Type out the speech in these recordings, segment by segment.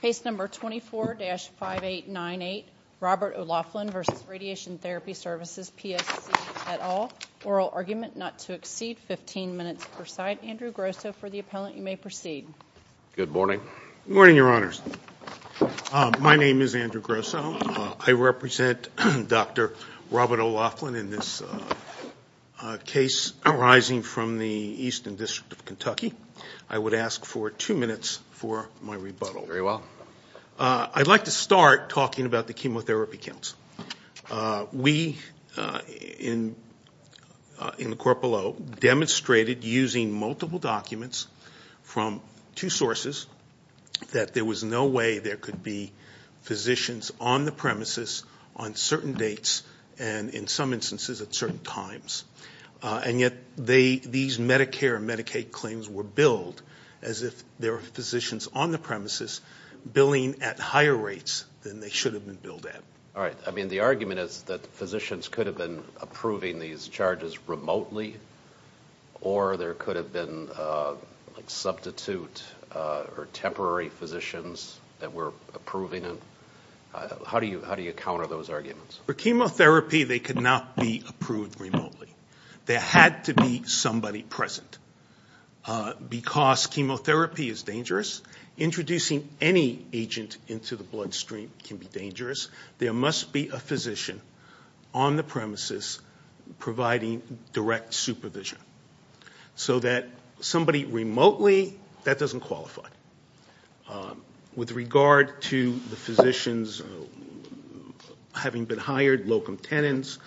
Case number 24-5898, Robert OLaughlin v. Radiation Therapy Services, PSC, et al. Oral argument not to exceed 15 minutes per side. Andrew Grosso for the appellant. You may proceed. Good morning. Good morning, Your Honors. My name is Andrew Grosso. I represent Dr. Robert OLaughlin in this case arising from the Eastern District of Kentucky. I would ask for two minutes for my rebuttal. Very well. I'd like to start talking about the Chemotherapy Council. We in the court below demonstrated using multiple documents from two sources that there was no way there could be physicians on the premises on certain dates and in some instances at certain times. And yet these Medicare and Medicaid claims were billed as if there were physicians on the premises billing at higher rates than they should have been billed at. All right. I mean the argument is that physicians could have been approving these charges remotely or there could have been substitute or temporary physicians that were approving it. How do you counter those arguments? For chemotherapy they could not be approved remotely. There had to be somebody present. Because chemotherapy is dangerous, introducing any agent into the bloodstream can be dangerous. There must be a physician on the premises providing direct supervision. So that somebody having been hired, locum tenens,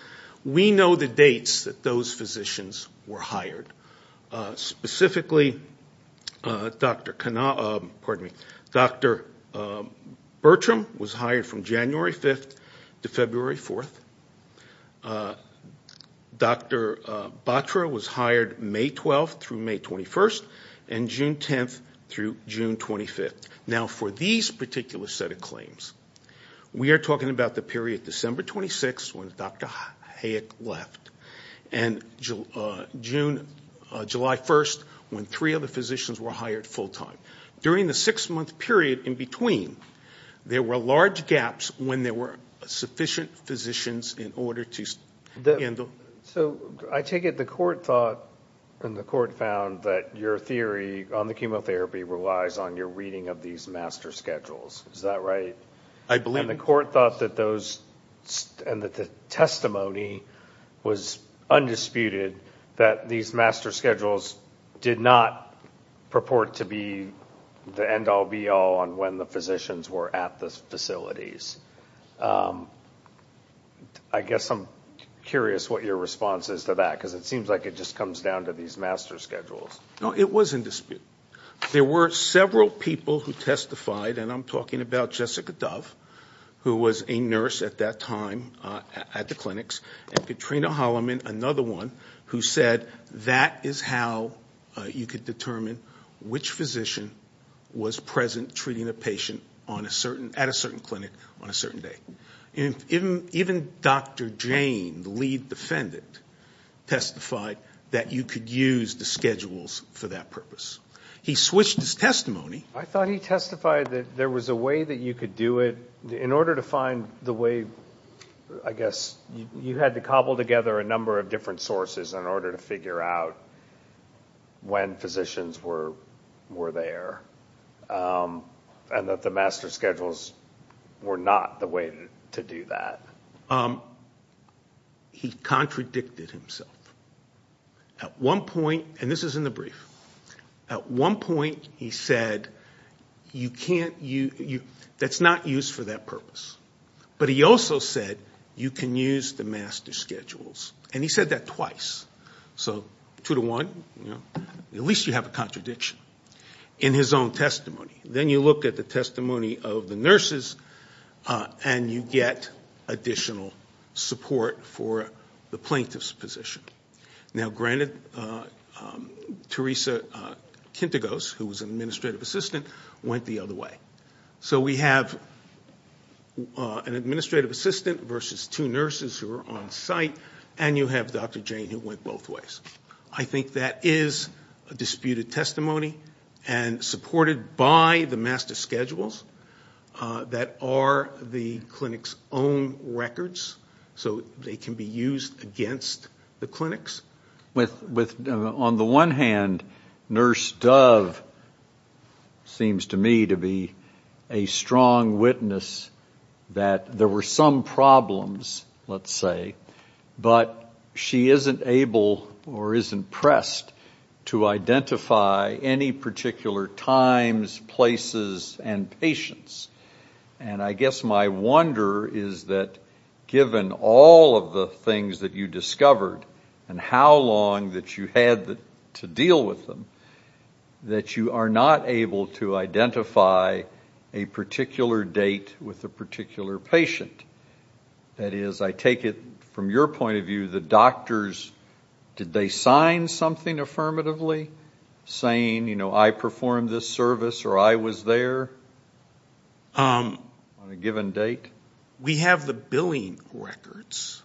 we know the dates that those physicians were hired. Specifically Dr. Bertram was hired from January 5th to February 4th. Dr. Batra was hired May 12th through May 21st and June 10th through June 25th. Now for these particular set of claims, we are talking about the period December 26th when Dr. Hayek left and July 1st when three other physicians were hired full time. During the six month period in between there were large gaps when there were sufficient physicians in order to handle. So I take it the court thought and the court found that your theory on the chemotherapy relies on your reading of these master schedules. Is that right? I believe the court thought that those and that the testimony was undisputed that these master schedules did not purport to be the end-all be-all on when the physicians were at the facilities. I guess I'm curious what your response is to that because it seems like it just comes down to these master schedules. No, it was in dispute. There were several people who testified and I'm talking about Jessica Dove who was a nurse at that time at the clinics and Katrina Holliman, another one, who said that is how you could determine which physician was present treating a patient at a certain clinic on a certain day. Even Dr. Jane, the lead defendant, testified that you could use the schedules for that purpose. He switched his testimony. I thought he testified that there was a way that you could do it in order to find the way, I guess, you had to cobble together a number of different sources in order to figure out when physicians were there and that the master schedules were not the way to do that. He contradicted himself. At one point, and this is in the brief, at one point he said you can't use, that's not used for that purpose, but he also said you can use the master schedules and he said that twice. So two to one, at least you have a contradiction in his own testimony. Then you look at the testimony of the nurses and you get additional support for the plaintiff's position. Now granted, Teresa Kintagos, who was an administrative assistant, went the other way. So we have an administrative assistant versus two nurses who are on site and you have Dr. Jane who went both ways. I think that is a disputed testimony and supported by the master schedules that are the clinic's own records so they can be used against the clinics. On the one hand, Nurse Dove seems to me to be a strong witness that there were some problems, let's say, but she isn't able or isn't pressed to identify any particular times, places, and patients. I guess my wonder is that given all of the things that you discovered and how long that you had to deal with them, that you are not able to identify a particular date with a particular patient. That is, I take it from your point of view, the doctors, did they sign something affirmatively saying, you know, I performed this service or I was there on a given date? We have the billing records.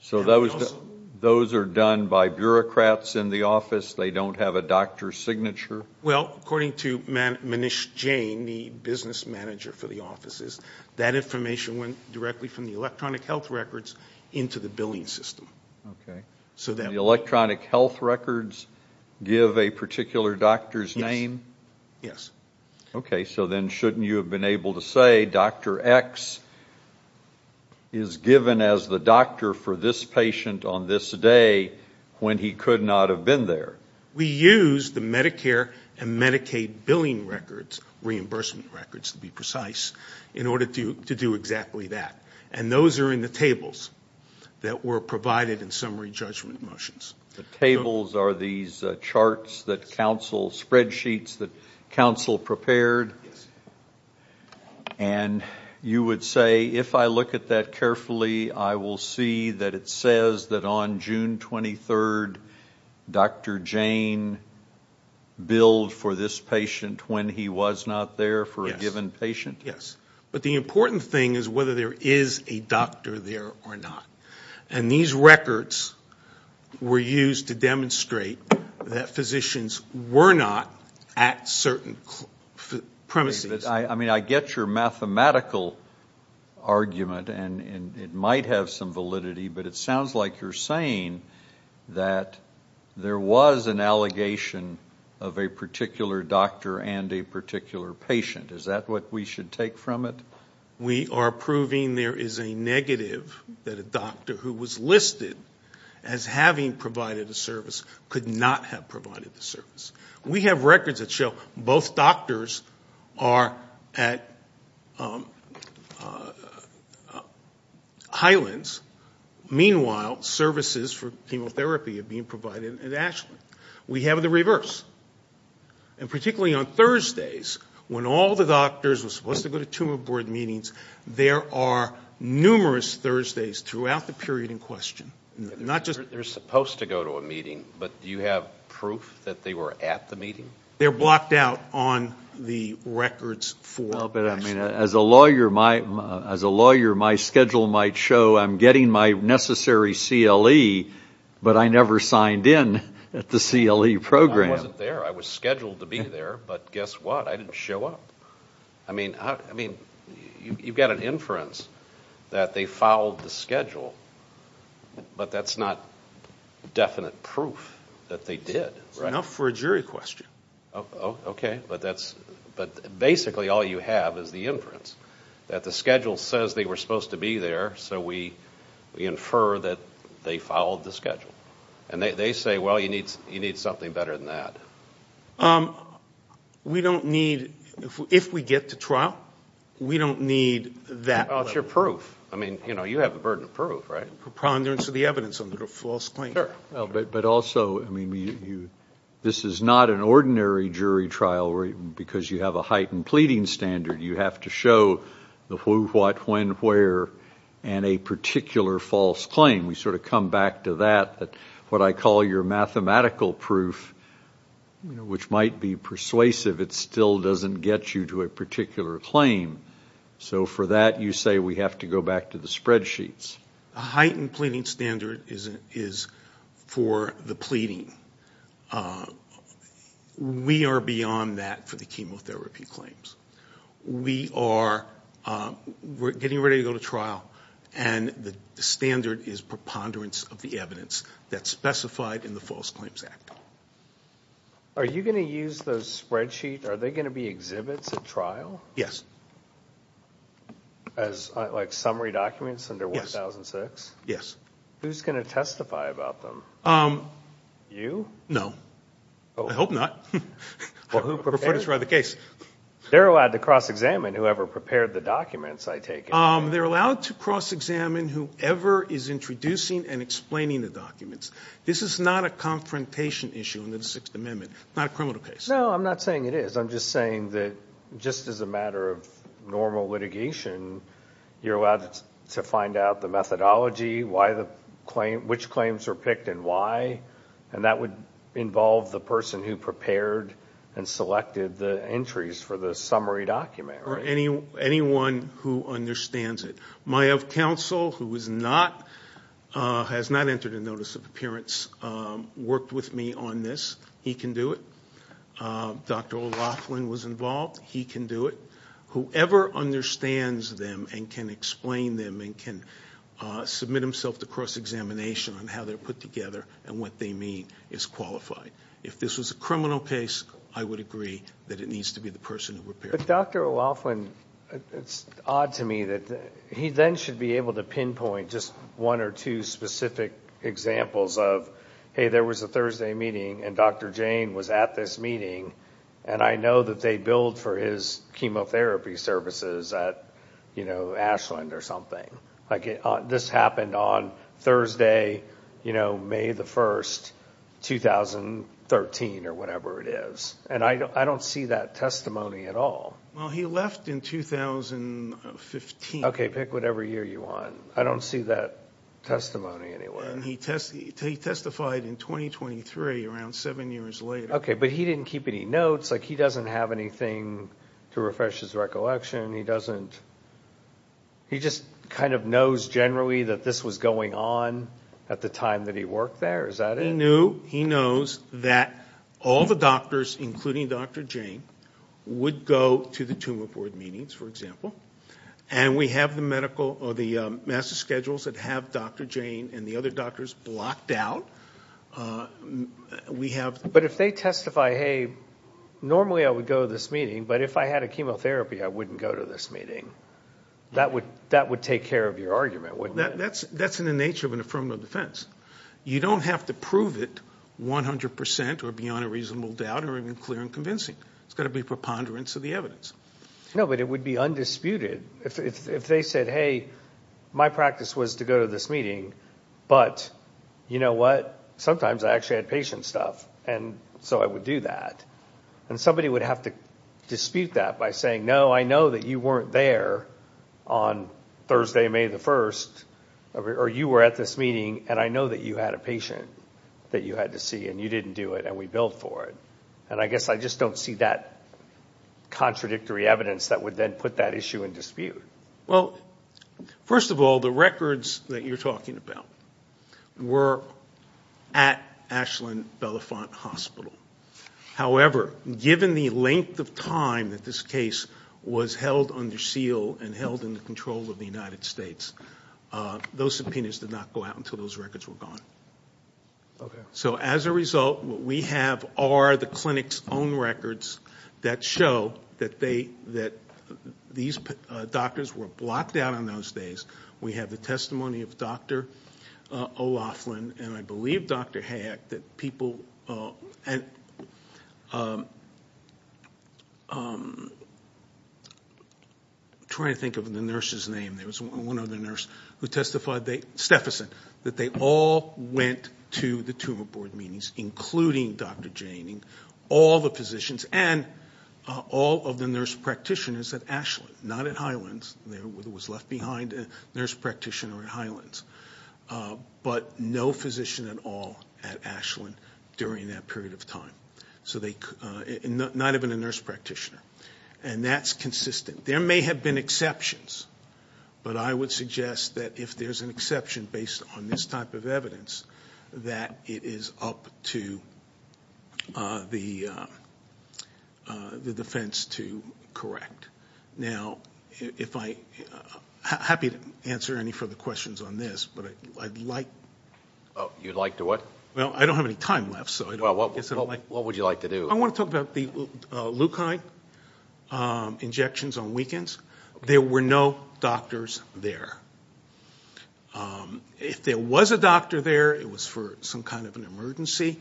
So those are done by bureaucrats in the office, they don't have a doctor's signature? Well, according to Manish Jain, the business manager for the offices, that information went directly from the electronic health records into the billing system. Okay. The electronic health records give a particular doctor's name? Yes. Okay. So then shouldn't you have been able to say, Dr. X is given as the doctor for this patient on this day when he could not have been there? We use the Medicare and Medicaid billing records, reimbursement records to be precise, in order to do exactly that. And those are in the tables that were provided in summary judgment motions. The tables are these charts that counsel, spreadsheets that counsel prepared? Yes. And you would say, if I look at that carefully, I will see that it says that on June 23rd, Dr. Jain billed for this patient when he was not there for a given patient? Yes. But the important thing is whether there is a doctor there or not. And these records were used to demonstrate that physicians were not at certain premises. I mean, I get your mathematical argument, and it might have some validity, but it sounds like you're saying that there was an allegation of a particular doctor and a particular patient. Is that what we should take from it? We are proving there is a negative that a doctor who was listed as having provided a service could not have provided the service. We have records that show both doctors are at Highlands. Meanwhile, services for chemotherapy are being provided at Ashland. We have the reverse. And particularly on Thursdays, when all the doctors were supposed to go to tumor board meetings, there are numerous Thursdays throughout the period in question. They're supposed to go to a meeting, but do you have proof that they were at the meeting? They're blocked out on the records for Ashland. As a lawyer, my schedule might show I'm getting my necessary CLE, but I never signed in at the CLE program. I wasn't there. I was scheduled to be there, but guess what? I didn't show up. I mean, you've got an inference that they fouled the schedule, but that's not definite proof that they did. It's enough for a jury question. Okay, but basically all you have is the inference that the schedule says they were supposed to be there, so we infer that they fouled the schedule. And they say, well, you need something better than that. We don't need, if we get to trial, we don't need that. It's your proof. I mean, you have the burden of proof, right? Preponderance of the evidence under a false claim. But also, this is not an ordinary jury trial, because you have a heightened pleading standard. You have to show the who, what, when, where, and a particular false claim. We sort of come back to that, what I call your mathematical proof, which might be persuasive. It still doesn't get you to a particular claim. So for that, you say we have to go back to the spreadsheets. A heightened pleading standard is for the pleading. We are beyond that for the clinical therapy claims. We are getting ready to go to trial, and the standard is preponderance of the evidence that's specified in the False Claims Act. Are you going to use those spreadsheets, are they going to be exhibits at trial? Yes. As like summary documents under 1006? Yes. Who's going to testify about them? You? No. I hope not. Who prepares for the case? They're allowed to cross-examine whoever prepared the documents, I take it. They're allowed to cross-examine whoever is introducing and explaining the documents. This is not a confrontation issue under the Sixth Amendment, not a criminal case. No, I'm not saying it is. I'm just saying that just as a matter of normal litigation, you're allowed to find out the methodology, which claims were picked and why, and that would involve the person who prepared and selected the entries for the summary document. Anyone who understands it. My of counsel, who has not entered a Notice of Appearance, worked with me on this. He can do it. Dr. Laughlin was involved. He can do it. Whoever understands them and can explain them and can submit himself to cross-examination on how they're put together and what they mean is qualified. If this was a criminal case, I would agree that it needs to be the person who prepared it. But Dr. Laughlin, it's odd to me that he then should be able to pinpoint just one or two specific examples of, hey, there was a Thursday meeting and Dr. Jane was at this meeting, and I know that they billed for his chemotherapy services at Ashland or something. This happened on Thursday, May the 1st, 2013 or whatever it is. I don't see that testimony at all. Well, he left in 2015. Okay, pick whatever year you want. I don't see that testimony anywhere. He testified in 2023, around seven years later. Okay, but he didn't keep any notes. He doesn't have anything to refresh his recollection. He just kind of knows generally that this was going on at the time that he worked there. Is that it? He knew. He knows that all the doctors, including Dr. Jane, would go to the tumor board meetings, for example. And we have the master schedules that have Dr. Jane and the other doctors blocked out. But if they testify, hey, normally I would go to this meeting, but if I had a chemotherapy, I wouldn't go to this meeting, that would take care of your argument, wouldn't it? That's in the nature of an affirmative defense. You don't have to prove it 100 percent or beyond a reasonable doubt or even clear and convincing. It's got to be a preponderance of the evidence. No, but it would be undisputed. If they said, hey, my practice was to go to this meeting, but you know what? Sometimes I actually had patient stuff, and so I would do that. And you would have to dispute that by saying, no, I know that you weren't there on Thursday, May the 1st, or you were at this meeting, and I know that you had a patient that you had to see, and you didn't do it, and we billed for it. And I guess I just don't see that contradictory evidence that would then put that issue in dispute. Well, first of all, the records that you're talking about were at Ashland Belafont Hospital. However, given the length of time that this case was held under seal and held in the control of the United States, those subpoenas did not go out until those records were gone. So as a result, what we have are the clinic's own records that show that these doctors were blocked out on those days. We have the testimony of Dr. O'Loughlin and I believe Dr. Hayek that people... I'm trying to think of the nurse's name. There was one other nurse who testified, Steffesen, that they all went to the tumor board meetings, including Dr. Janning, all the physicians, and all of the nurse practitioners at Ashland, not at Highlands. There was left behind a nurse practitioner at Highlands, but no physician at all at Ashland during that period of time. So they... not even a nurse practitioner. And that's consistent. There may have been exceptions, but I would suggest that if there's an exception based on this type of evidence, that it is up to the defense to correct. Now if I... happy to answer any further questions on this, but I'd like... Oh, you'd like to what? Well, I don't have any time left, so I guess I don't like... Well, what would you like to do? I want to talk about the Leukine injections on weekends. There were no doctors there. If there was a doctor there, it was for some kind of an emergency,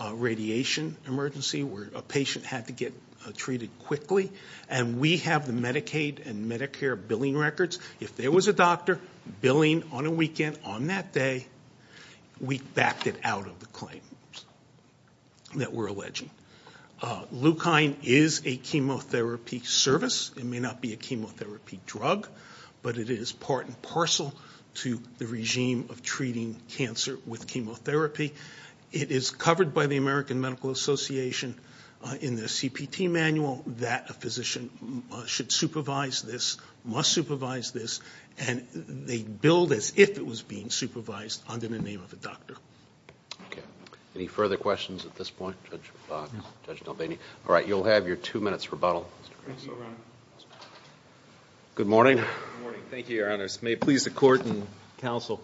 a radiation emergency where a patient had to get treated quickly. And we have the Medicaid and Medicare billing records. If there was a doctor billing on a weekend on that day, we backed it out of the claim that we're alleging. Leukine is a chemotherapy service. It may not be a chemotherapy drug, but it is part and parcel to the regime of treating cancer with chemotherapy. It is covered by the American Medical Association in the CPT manual that a physician should supervise this, must supervise this, and they billed as if it was being supervised under the name of a doctor. Any further questions at this point, Judge DelBene? All right, you'll have your two minutes for rebuttal. Thank you, Your Honor. Good morning. Good morning. Thank you, Your Honors. May it please the Court and counsel,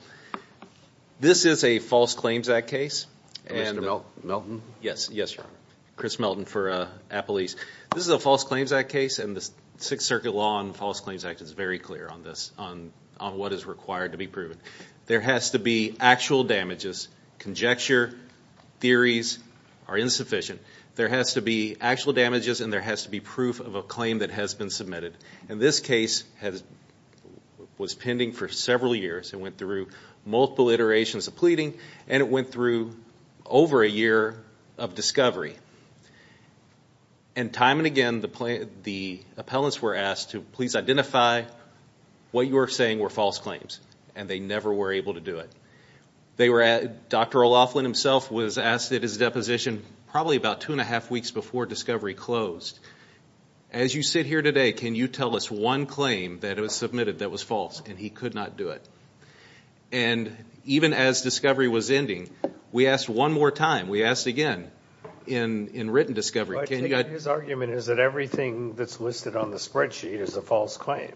this is a false claims act case. Commissioner Melton? Yes, yes, Your Honor. Chris Melton for Appalese. This is a false claims act case, and the Sixth Circuit Law and False Claims Act is very clear on this, on what is required to be proven. There has to be actual damages. Conjecture, theories are insufficient. There has to be actual damages, and there has to be proof of a claim that has been submitted. And this case was pending for several years. It went through multiple iterations of pleading, and it went through over a year of discovery. And time and again, the appellants were asked to please identify what you are saying were false claims, and they never were able to do it. Dr. O'Loughlin himself was asked at his deposition probably about two and a half weeks before discovery closed, as you sit here today, can you tell us one claim that was submitted that was false, and he could not do it? And even as discovery was ending, we asked one more time, we asked again, in written discovery, can you... But his argument is that everything that's listed on the spreadsheet is a false claim.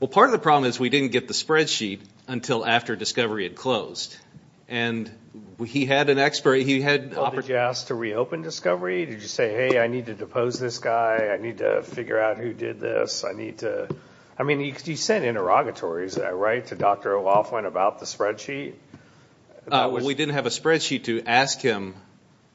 Well, part of the problem is we didn't get the spreadsheet until after discovery had closed. And he had an expert, he had... Well, did you ask to reopen discovery? Did you say, hey, I need to depose this guy, I need to figure out who did this, I need to... I mean, you sent interrogatories, right, to Dr. O'Loughlin about the spreadsheet? We didn't have a spreadsheet to ask him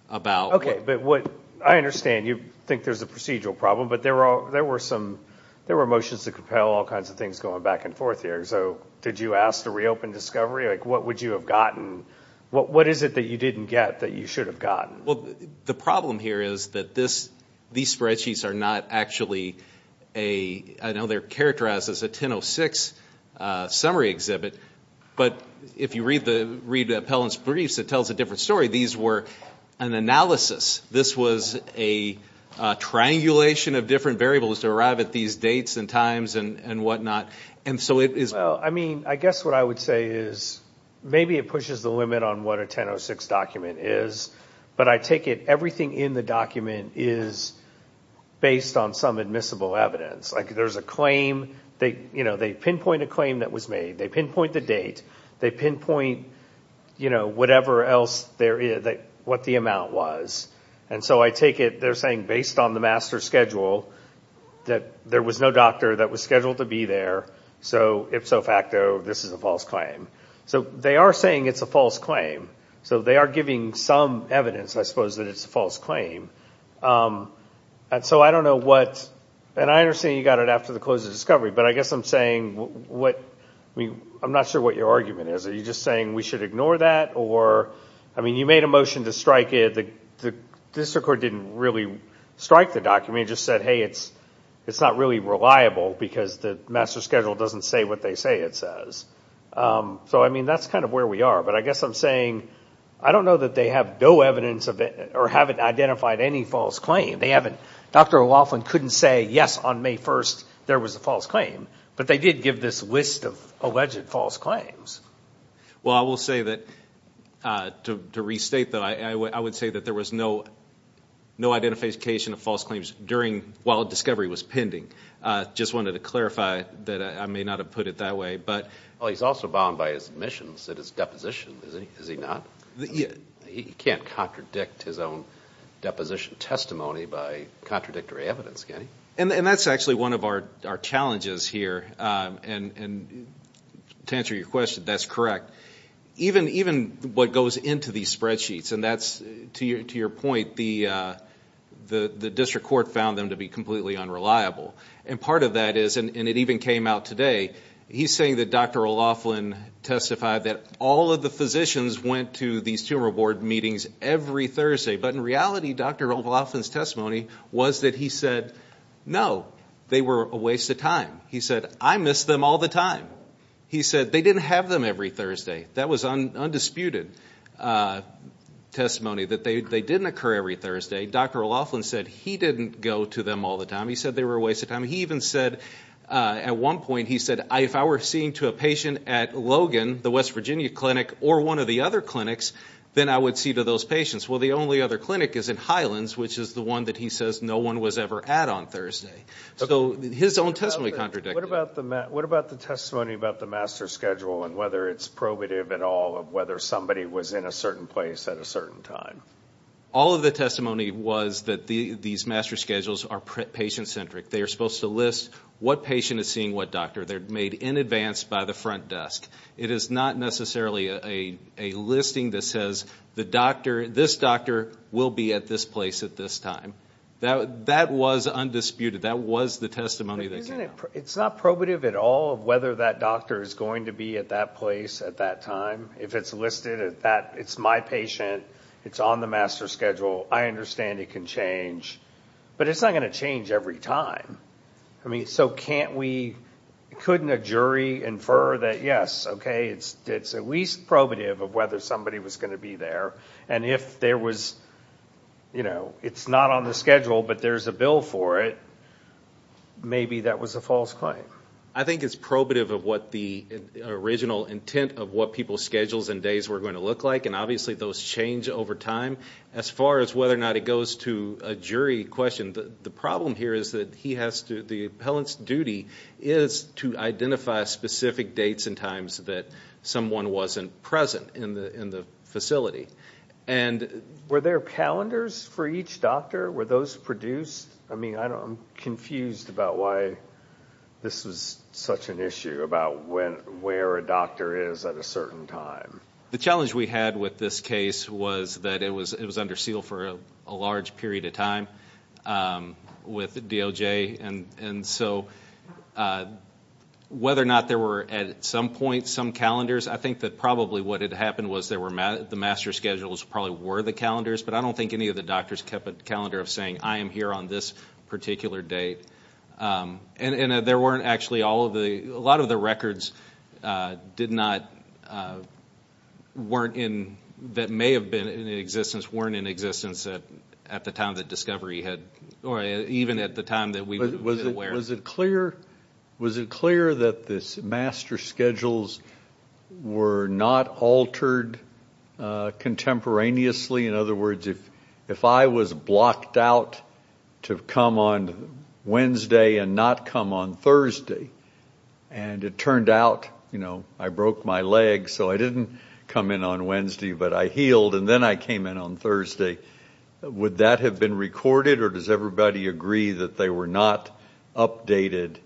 about... Okay, but what... I understand you think there's a procedural problem, but there were some... There were motions to compel all kinds of things going back and forth here. So did you ask to reopen discovery? Like, what would you have gotten? What is it that you didn't get that you should have gotten? The problem here is that these spreadsheets are not actually a... I know they're characterized as a 10.06 summary exhibit, but if you read the appellant's briefs, it tells a different story. These were an analysis. This was a triangulation of different variables to arrive at these dates and times and whatnot. And so it is... Well, I mean, I guess what I would say is maybe it pushes the limit on what a 10.06 document is, but I take it everything in the document is based on some admissible evidence. There's a claim. They pinpoint a claim that was made. They pinpoint the date. They pinpoint whatever else there is, what the amount was. And so I take it they're saying based on the master schedule that there was no doctor that was scheduled to be there, so ipso facto, this is a false claim. So they are saying it's a false claim. So they are giving some evidence, I suppose, that it's a false claim. And so I don't know what... And I understand you got it after the close of discovery, but I guess I'm saying what... I mean, I'm not sure what your argument is. Are you just saying we should ignore that or... I mean, you made a motion to strike it. The district court didn't really strike the document. It just said, hey, it's not really reliable because the master schedule doesn't say what they say it says. So, I mean, that's kind of where we are. But I guess I'm saying, I don't know that they have no evidence of it or haven't identified any false claim. They haven't... Dr. O'Loughlin couldn't say, yes, on May 1st there was a false claim, but they did give this list of alleged false claims. Well, I will say that, to restate that, I would say that there was no identification of false claims while discovery was pending. Just wanted to clarify that I may not have put it that way, but... Well, he's also bound by his admissions at his deposition, is he not? He can't contradict his own deposition testimony by contradictory evidence, can he? And that's actually one of our challenges here. And to answer your question, that's correct. Even what goes into these spreadsheets, and that's, to your point, the district court found them to be completely unreliable. And part of that is, and it even came out today, he's saying that Dr. O'Loughlin testified that all of the physicians went to these tumor board meetings every Thursday. But in reality, Dr. O'Loughlin's testimony was that he said, no, they were a waste of time. He said, I miss them all the time. He said, they didn't have them every Thursday. That was undisputed testimony, that they didn't occur every Thursday. Dr. O'Loughlin said, he didn't go to them all the time. He said they were a waste of time. He even said, at one point, he said, if I were seeing to a patient at Logan, the West Virginia clinic, or one of the other clinics, then I would see to those patients. Well, the only other clinic is in Highlands, which is the one that he says no one was ever at on Thursday. So his own testimony contradicted What about the testimony about the master schedule and whether it's probative at all of whether somebody was in a certain place at a certain time? All of the testimony was that these master schedules are patient-centric. They are supposed to list what patient is seeing what doctor. They're made in advance by the front desk. It is not necessarily a listing that says, this doctor will be at this place at this time. That was undisputed. That was the testimony that came out. It's not probative at all of whether that doctor is going to be at that place at that time. If it's listed at that, it's my patient, it's on the master schedule, I understand it can change. But it's not going to change every time. I mean, so can't we, couldn't a jury infer that, yes, okay, it's at least probative of whether somebody was going to be there. And if there was, you know, it's not on the schedule, but there's a bill for it, maybe that was a false claim. I think it's probative of what the original intent of what people's schedules and days were going to look like. And obviously those change over time. As far as whether or not it goes to a jury question, the problem here is that he has to, the appellant's duty is to identify specific dates and times that someone wasn't present in the facility. And were there calendars for each doctor? Were those produced? I mean, I'm confused about why this was such an issue about where a doctor is at a certain time. The challenge we had with this case was that it was under seal for a large period of time with DOJ. And so whether or not there were at some point some calendars, I think that probably what had happened was the master schedules probably were the calendars, but I don't think any of the doctors kept a calendar of saying, I am here on this particular date. And there weren't actually all of the, a lot of the records did not, weren't in, that may have been in existence, weren't in existence at the time that discovery had, or even at the time that we were aware. Was it clear, was it clear that this master schedules were not altered contemporaneously? In other words, if I was blocked out to come on Wednesday and not come on Thursday, and it turned out, you know, I broke my leg so I didn't come in on Wednesday, but I healed and then I came in on Thursday, would that have been recorded or does everybody agree that they were not updated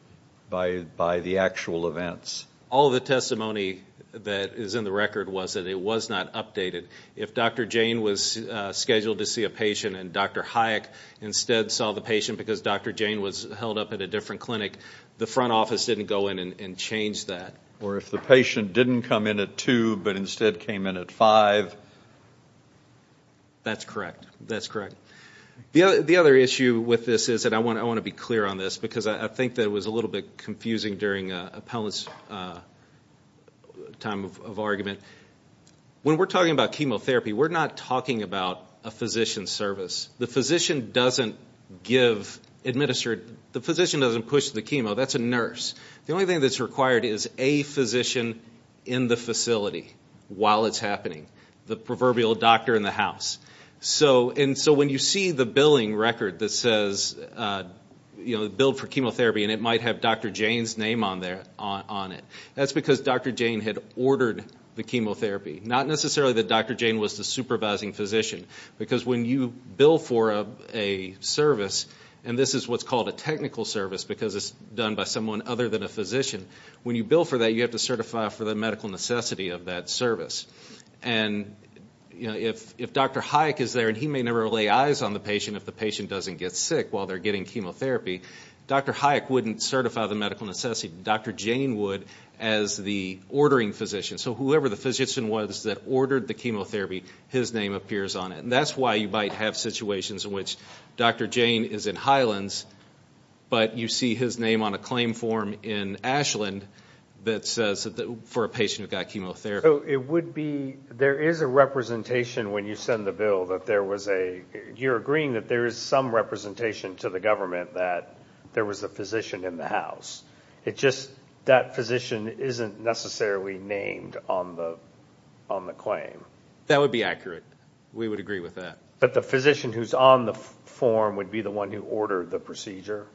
by the actual events? All the testimony that is in the record was that it was not updated. If Dr. Jane was scheduled to see a patient and Dr. Hayek instead saw the patient because Dr. Jane was held up at a different clinic, the front office didn't go in and change that. Or if the patient didn't come in at 2 but instead came in at 5. That's correct, that's correct. The other issue with this is that I want to be clear on this because I think that it was a little bit confusing during Appellant's time of argument. When we're talking about chemotherapy, we're not talking about a physician's service. The physician doesn't give, administer, the physician doesn't push the chemo, that's a The only thing that's required is a physician in the facility while it's happening. The proverbial doctor in the house. So when you see the billing record that says, you know, billed for chemotherapy and it might have Dr. Jane's name on it, that's because Dr. Jane had ordered the chemotherapy. Not necessarily that Dr. Jane was the supervising physician because when you bill for a service and this is what's called a technical service because it's done by someone other than a physician, when you bill for that you have to certify for the medical necessity of that service. And if Dr. Hayek is there and he may never lay eyes on the patient if the patient doesn't get sick while they're getting chemotherapy, Dr. Hayek wouldn't certify the medical necessity, Dr. Jane would as the ordering physician. So whoever the physician was that ordered the chemotherapy, his name appears on it. That's why you might have situations in which Dr. Jane is in Highlands but you see his name on a claim form in Ashland that says that for a patient who got chemotherapy. It would be, there is a representation when you send the bill that there was a, you're agreeing that there is some representation to the government that there was a physician in the house. It just, that physician isn't necessarily named on the claim. That would be accurate. We would agree with that. But the physician who's on the form would be the one who ordered the procedure?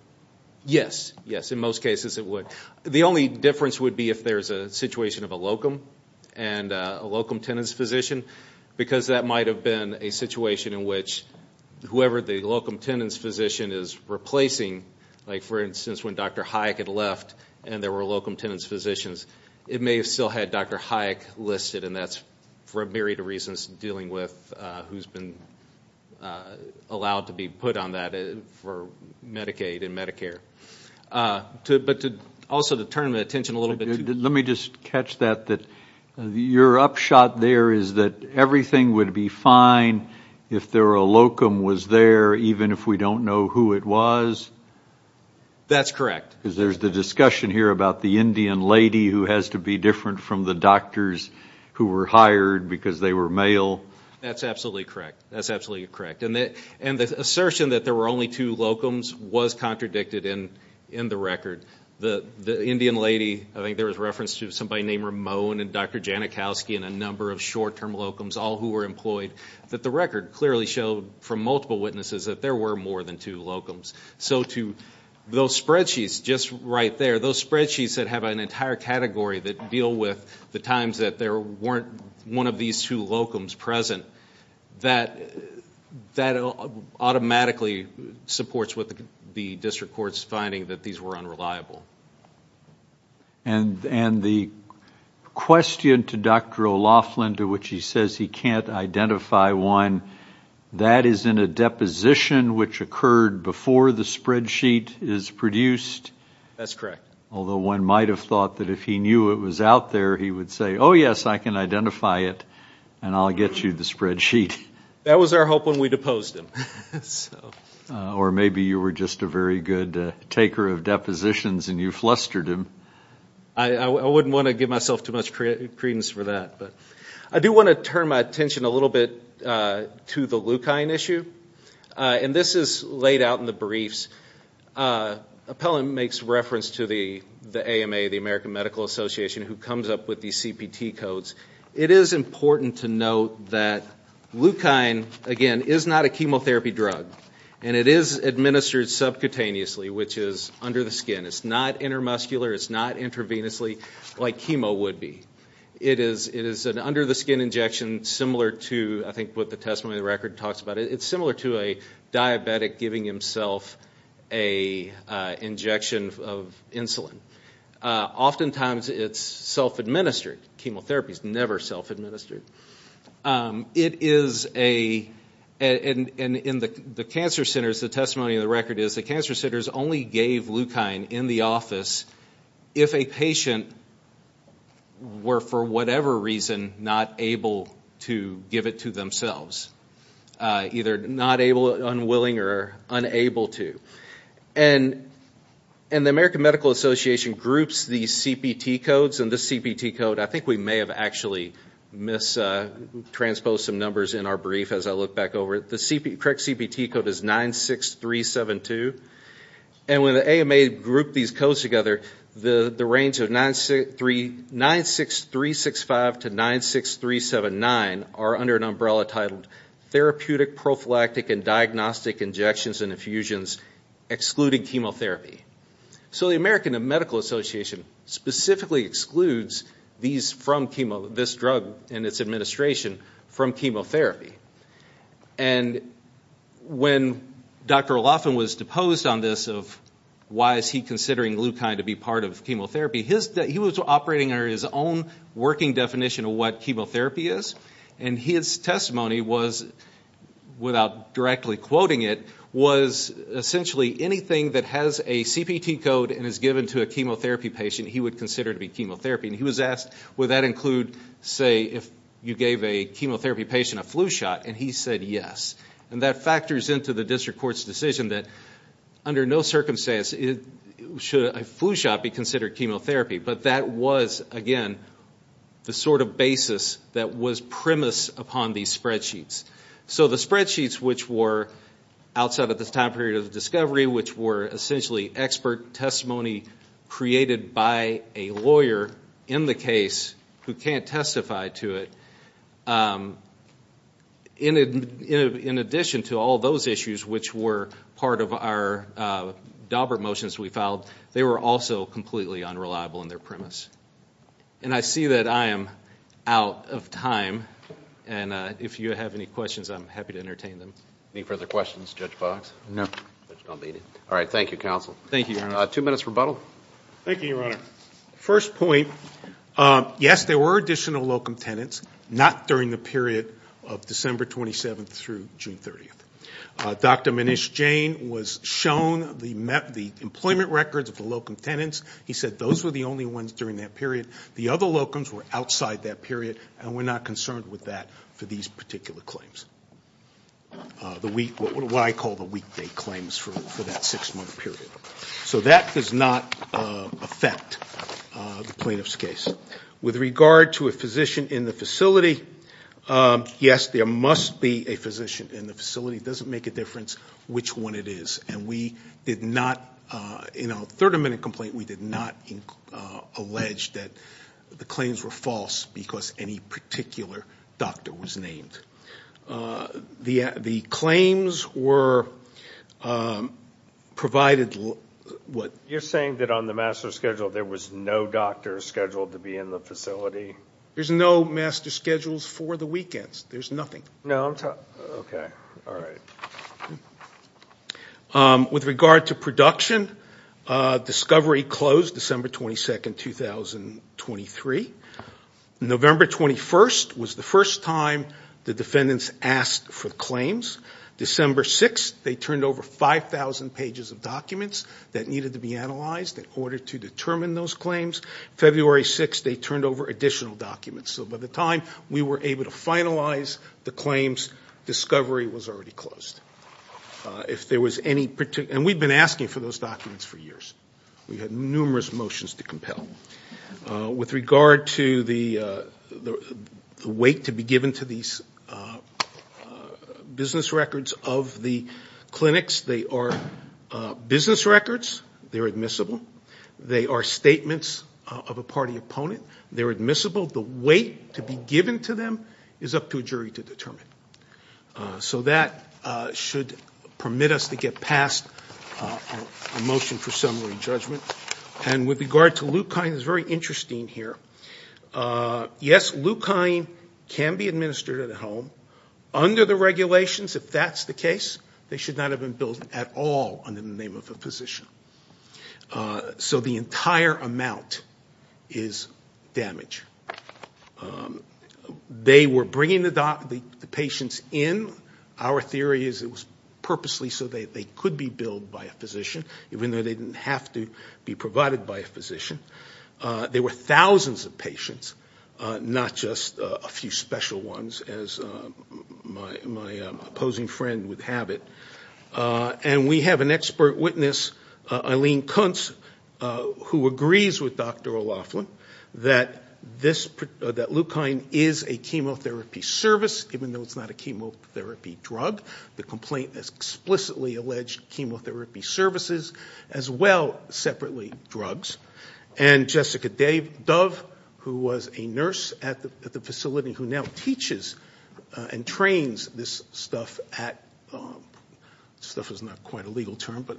Yes, yes. In most cases it would. The only difference would be if there's a situation of a locum and a locum tenens physician because that might have been a situation in which whoever the locum tenens physician is replacing, like for instance when Dr. Hayek had left and there were locum tenens physicians, it may have still had Dr. Hayek listed and that's for a myriad of reasons dealing with who's been allowed to be put on that for Medicaid and Medicare. But to also to turn the attention a little bit. Let me just catch that. Your upshot there is that everything would be fine if there were a locum was there even if we don't know who it was? That's correct. There's the discussion here about the Indian lady who has to be different from the doctors who were hired because they were male. That's absolutely correct. That's absolutely correct. And the assertion that there were only two locums was contradicted in the record. The Indian lady, I think there was reference to somebody named Ramone and Dr. Janikowski and a number of short term locums, all who were employed, that the record clearly showed from multiple witnesses that there were more than two locums. So to those spreadsheets just right there, those spreadsheets that have an entire category that deal with the times that there weren't one of these two locums present, that automatically supports what the district court's finding that these were unreliable. And the question to Dr. O'Loughlin to which he says he can't identify one, that is in the deposition which occurred before the spreadsheet is produced? That's correct. Although one might have thought that if he knew it was out there, he would say, oh yes, I can identify it and I'll get you the spreadsheet. That was our hope when we deposed him. Or maybe you were just a very good taker of depositions and you flustered him. I wouldn't want to give myself too much credence for that, but I do want to turn my attention a little bit to the Leukine issue. And this is laid out in the briefs. Appellant makes reference to the AMA, the American Medical Association, who comes up with these CPT codes. It is important to note that Leukine, again, is not a chemotherapy drug. And it is administered subcutaneously, which is under the skin. It's not intermuscular, it's not intravenously like chemo would be. It is an under the skin injection similar to, I think, what the testimony of the record talks about. It's similar to a diabetic giving himself an injection of insulin. Oftentimes it's self-administered. Chemotherapy is never self-administered. It is a, and in the cancer centers, the testimony of the record is, the cancer centers only gave Leukine in the office if a patient were, for whatever reason, not able to give it to themselves. Either not able, unwilling, or unable to. And the American Medical Association groups these CPT codes, and this CPT code, I think we may have actually mis-transposed some numbers in our brief as I look back over it. The correct CPT code is 96372. And when the AMA grouped these codes together, the range of 96365 to 96379 are under an umbrella titled Therapeutic, Prophylactic, and Diagnostic Injections and Infusions Excluding Chemotherapy. So the American Medical Association specifically excludes these from, this drug and its administration from chemotherapy. And when Dr. O'Loughlin was deposed on this of why is he considering Leukine to be part of chemotherapy, he was operating under his own working definition of what chemotherapy is, and his testimony was, without directly quoting it, was essentially anything that has a CPT code and is given to a chemotherapy patient, he would consider to be chemotherapy. And he was asked, would that include, say, if you gave a chemotherapy patient a flu shot, and he said yes. And that factors into the district court's decision that under no circumstance should a flu shot be considered chemotherapy. But that was, again, the sort of basis that was premised upon these spreadsheets. So the spreadsheets which were, outside of this time period of discovery, which were essentially expert testimony created by a lawyer in the case who can't testify to it, in addition to all those issues which were part of our Daubert motions we filed, they were also completely unreliable in their premise. And I see that I am out of time, and if you have any questions, I'm happy to entertain them. Any further questions, Judge Fox? No. All right. Thank you, counsel. Thank you, Your Honor. Two minutes rebuttal. Thank you, Your Honor. First point. Yes, there were additional locum tenants, not during the period of December 27th through June 30th. Dr. Manish Jain was shown the employment records of the locum tenants. He said those were the only ones during that period. The other locums were outside that period, and we're not concerned with that for these particular claims, what I call the weekday claims for that six-month period. So that does not affect the plaintiff's case. With regard to a physician in the facility, yes, there must be a physician in the facility. It doesn't make a difference which one it is. And we did not, in our third amendment complaint, we did not allege that the claims were false because any particular doctor was named. The claims were provided what? You're saying that on the master schedule there was no doctor scheduled to be in the facility? There's no master schedules for the weekends. There's nothing. No, I'm talking, okay, all right. With regard to production, discovery closed December 22nd, 2023. November 21st was the first time the defendants asked for claims. December 6th, they turned over 5,000 pages of documents that needed to be analyzed in order to determine those claims. February 6th, they turned over additional documents. So by the time we were able to finalize the claims, discovery was already closed. If there was any particular, and we've been asking for those documents for years. We had numerous motions to compel. With regard to the weight to be given to these business records of the clinics, they are business records, they're admissible. They are statements of a party opponent, they're admissible. The weight to be given to them is up to a jury to determine. So that should permit us to get past a motion for summary judgment. And with regard to Leukine, it's very interesting here. Yes, Leukine can be administered at home. Under the regulations, if that's the case, they should not have been billed at all under the name of a physician. So the entire amount is damage. They were bringing the patients in. Our theory is it was purposely so they could be billed by a physician, even though they didn't have to be provided by a physician. There were thousands of patients, not just a few special ones, as my opposing friend would have it. And we have an expert witness, Eileen Kuntz, who agrees with Dr. O'Loughlin that Leukine is a chemotherapy service, even though it's not a chemotherapy drug. The complaint explicitly alleged chemotherapy services, as well separately drugs. And Jessica Dove, who was a nurse at the facility who now teaches and trains this stuff at – this stuff is not quite a legal term, but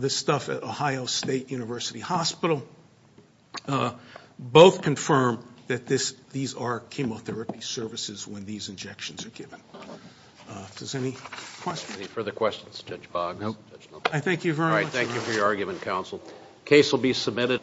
this stuff at Ohio State University Hospital – both confirm that these are chemotherapy services when these injections are given. Does anybody have any questions? Any further questions, Judge Boggs? No. I thank you very much. All right, thank you for your argument, counsel. The case will be submitted.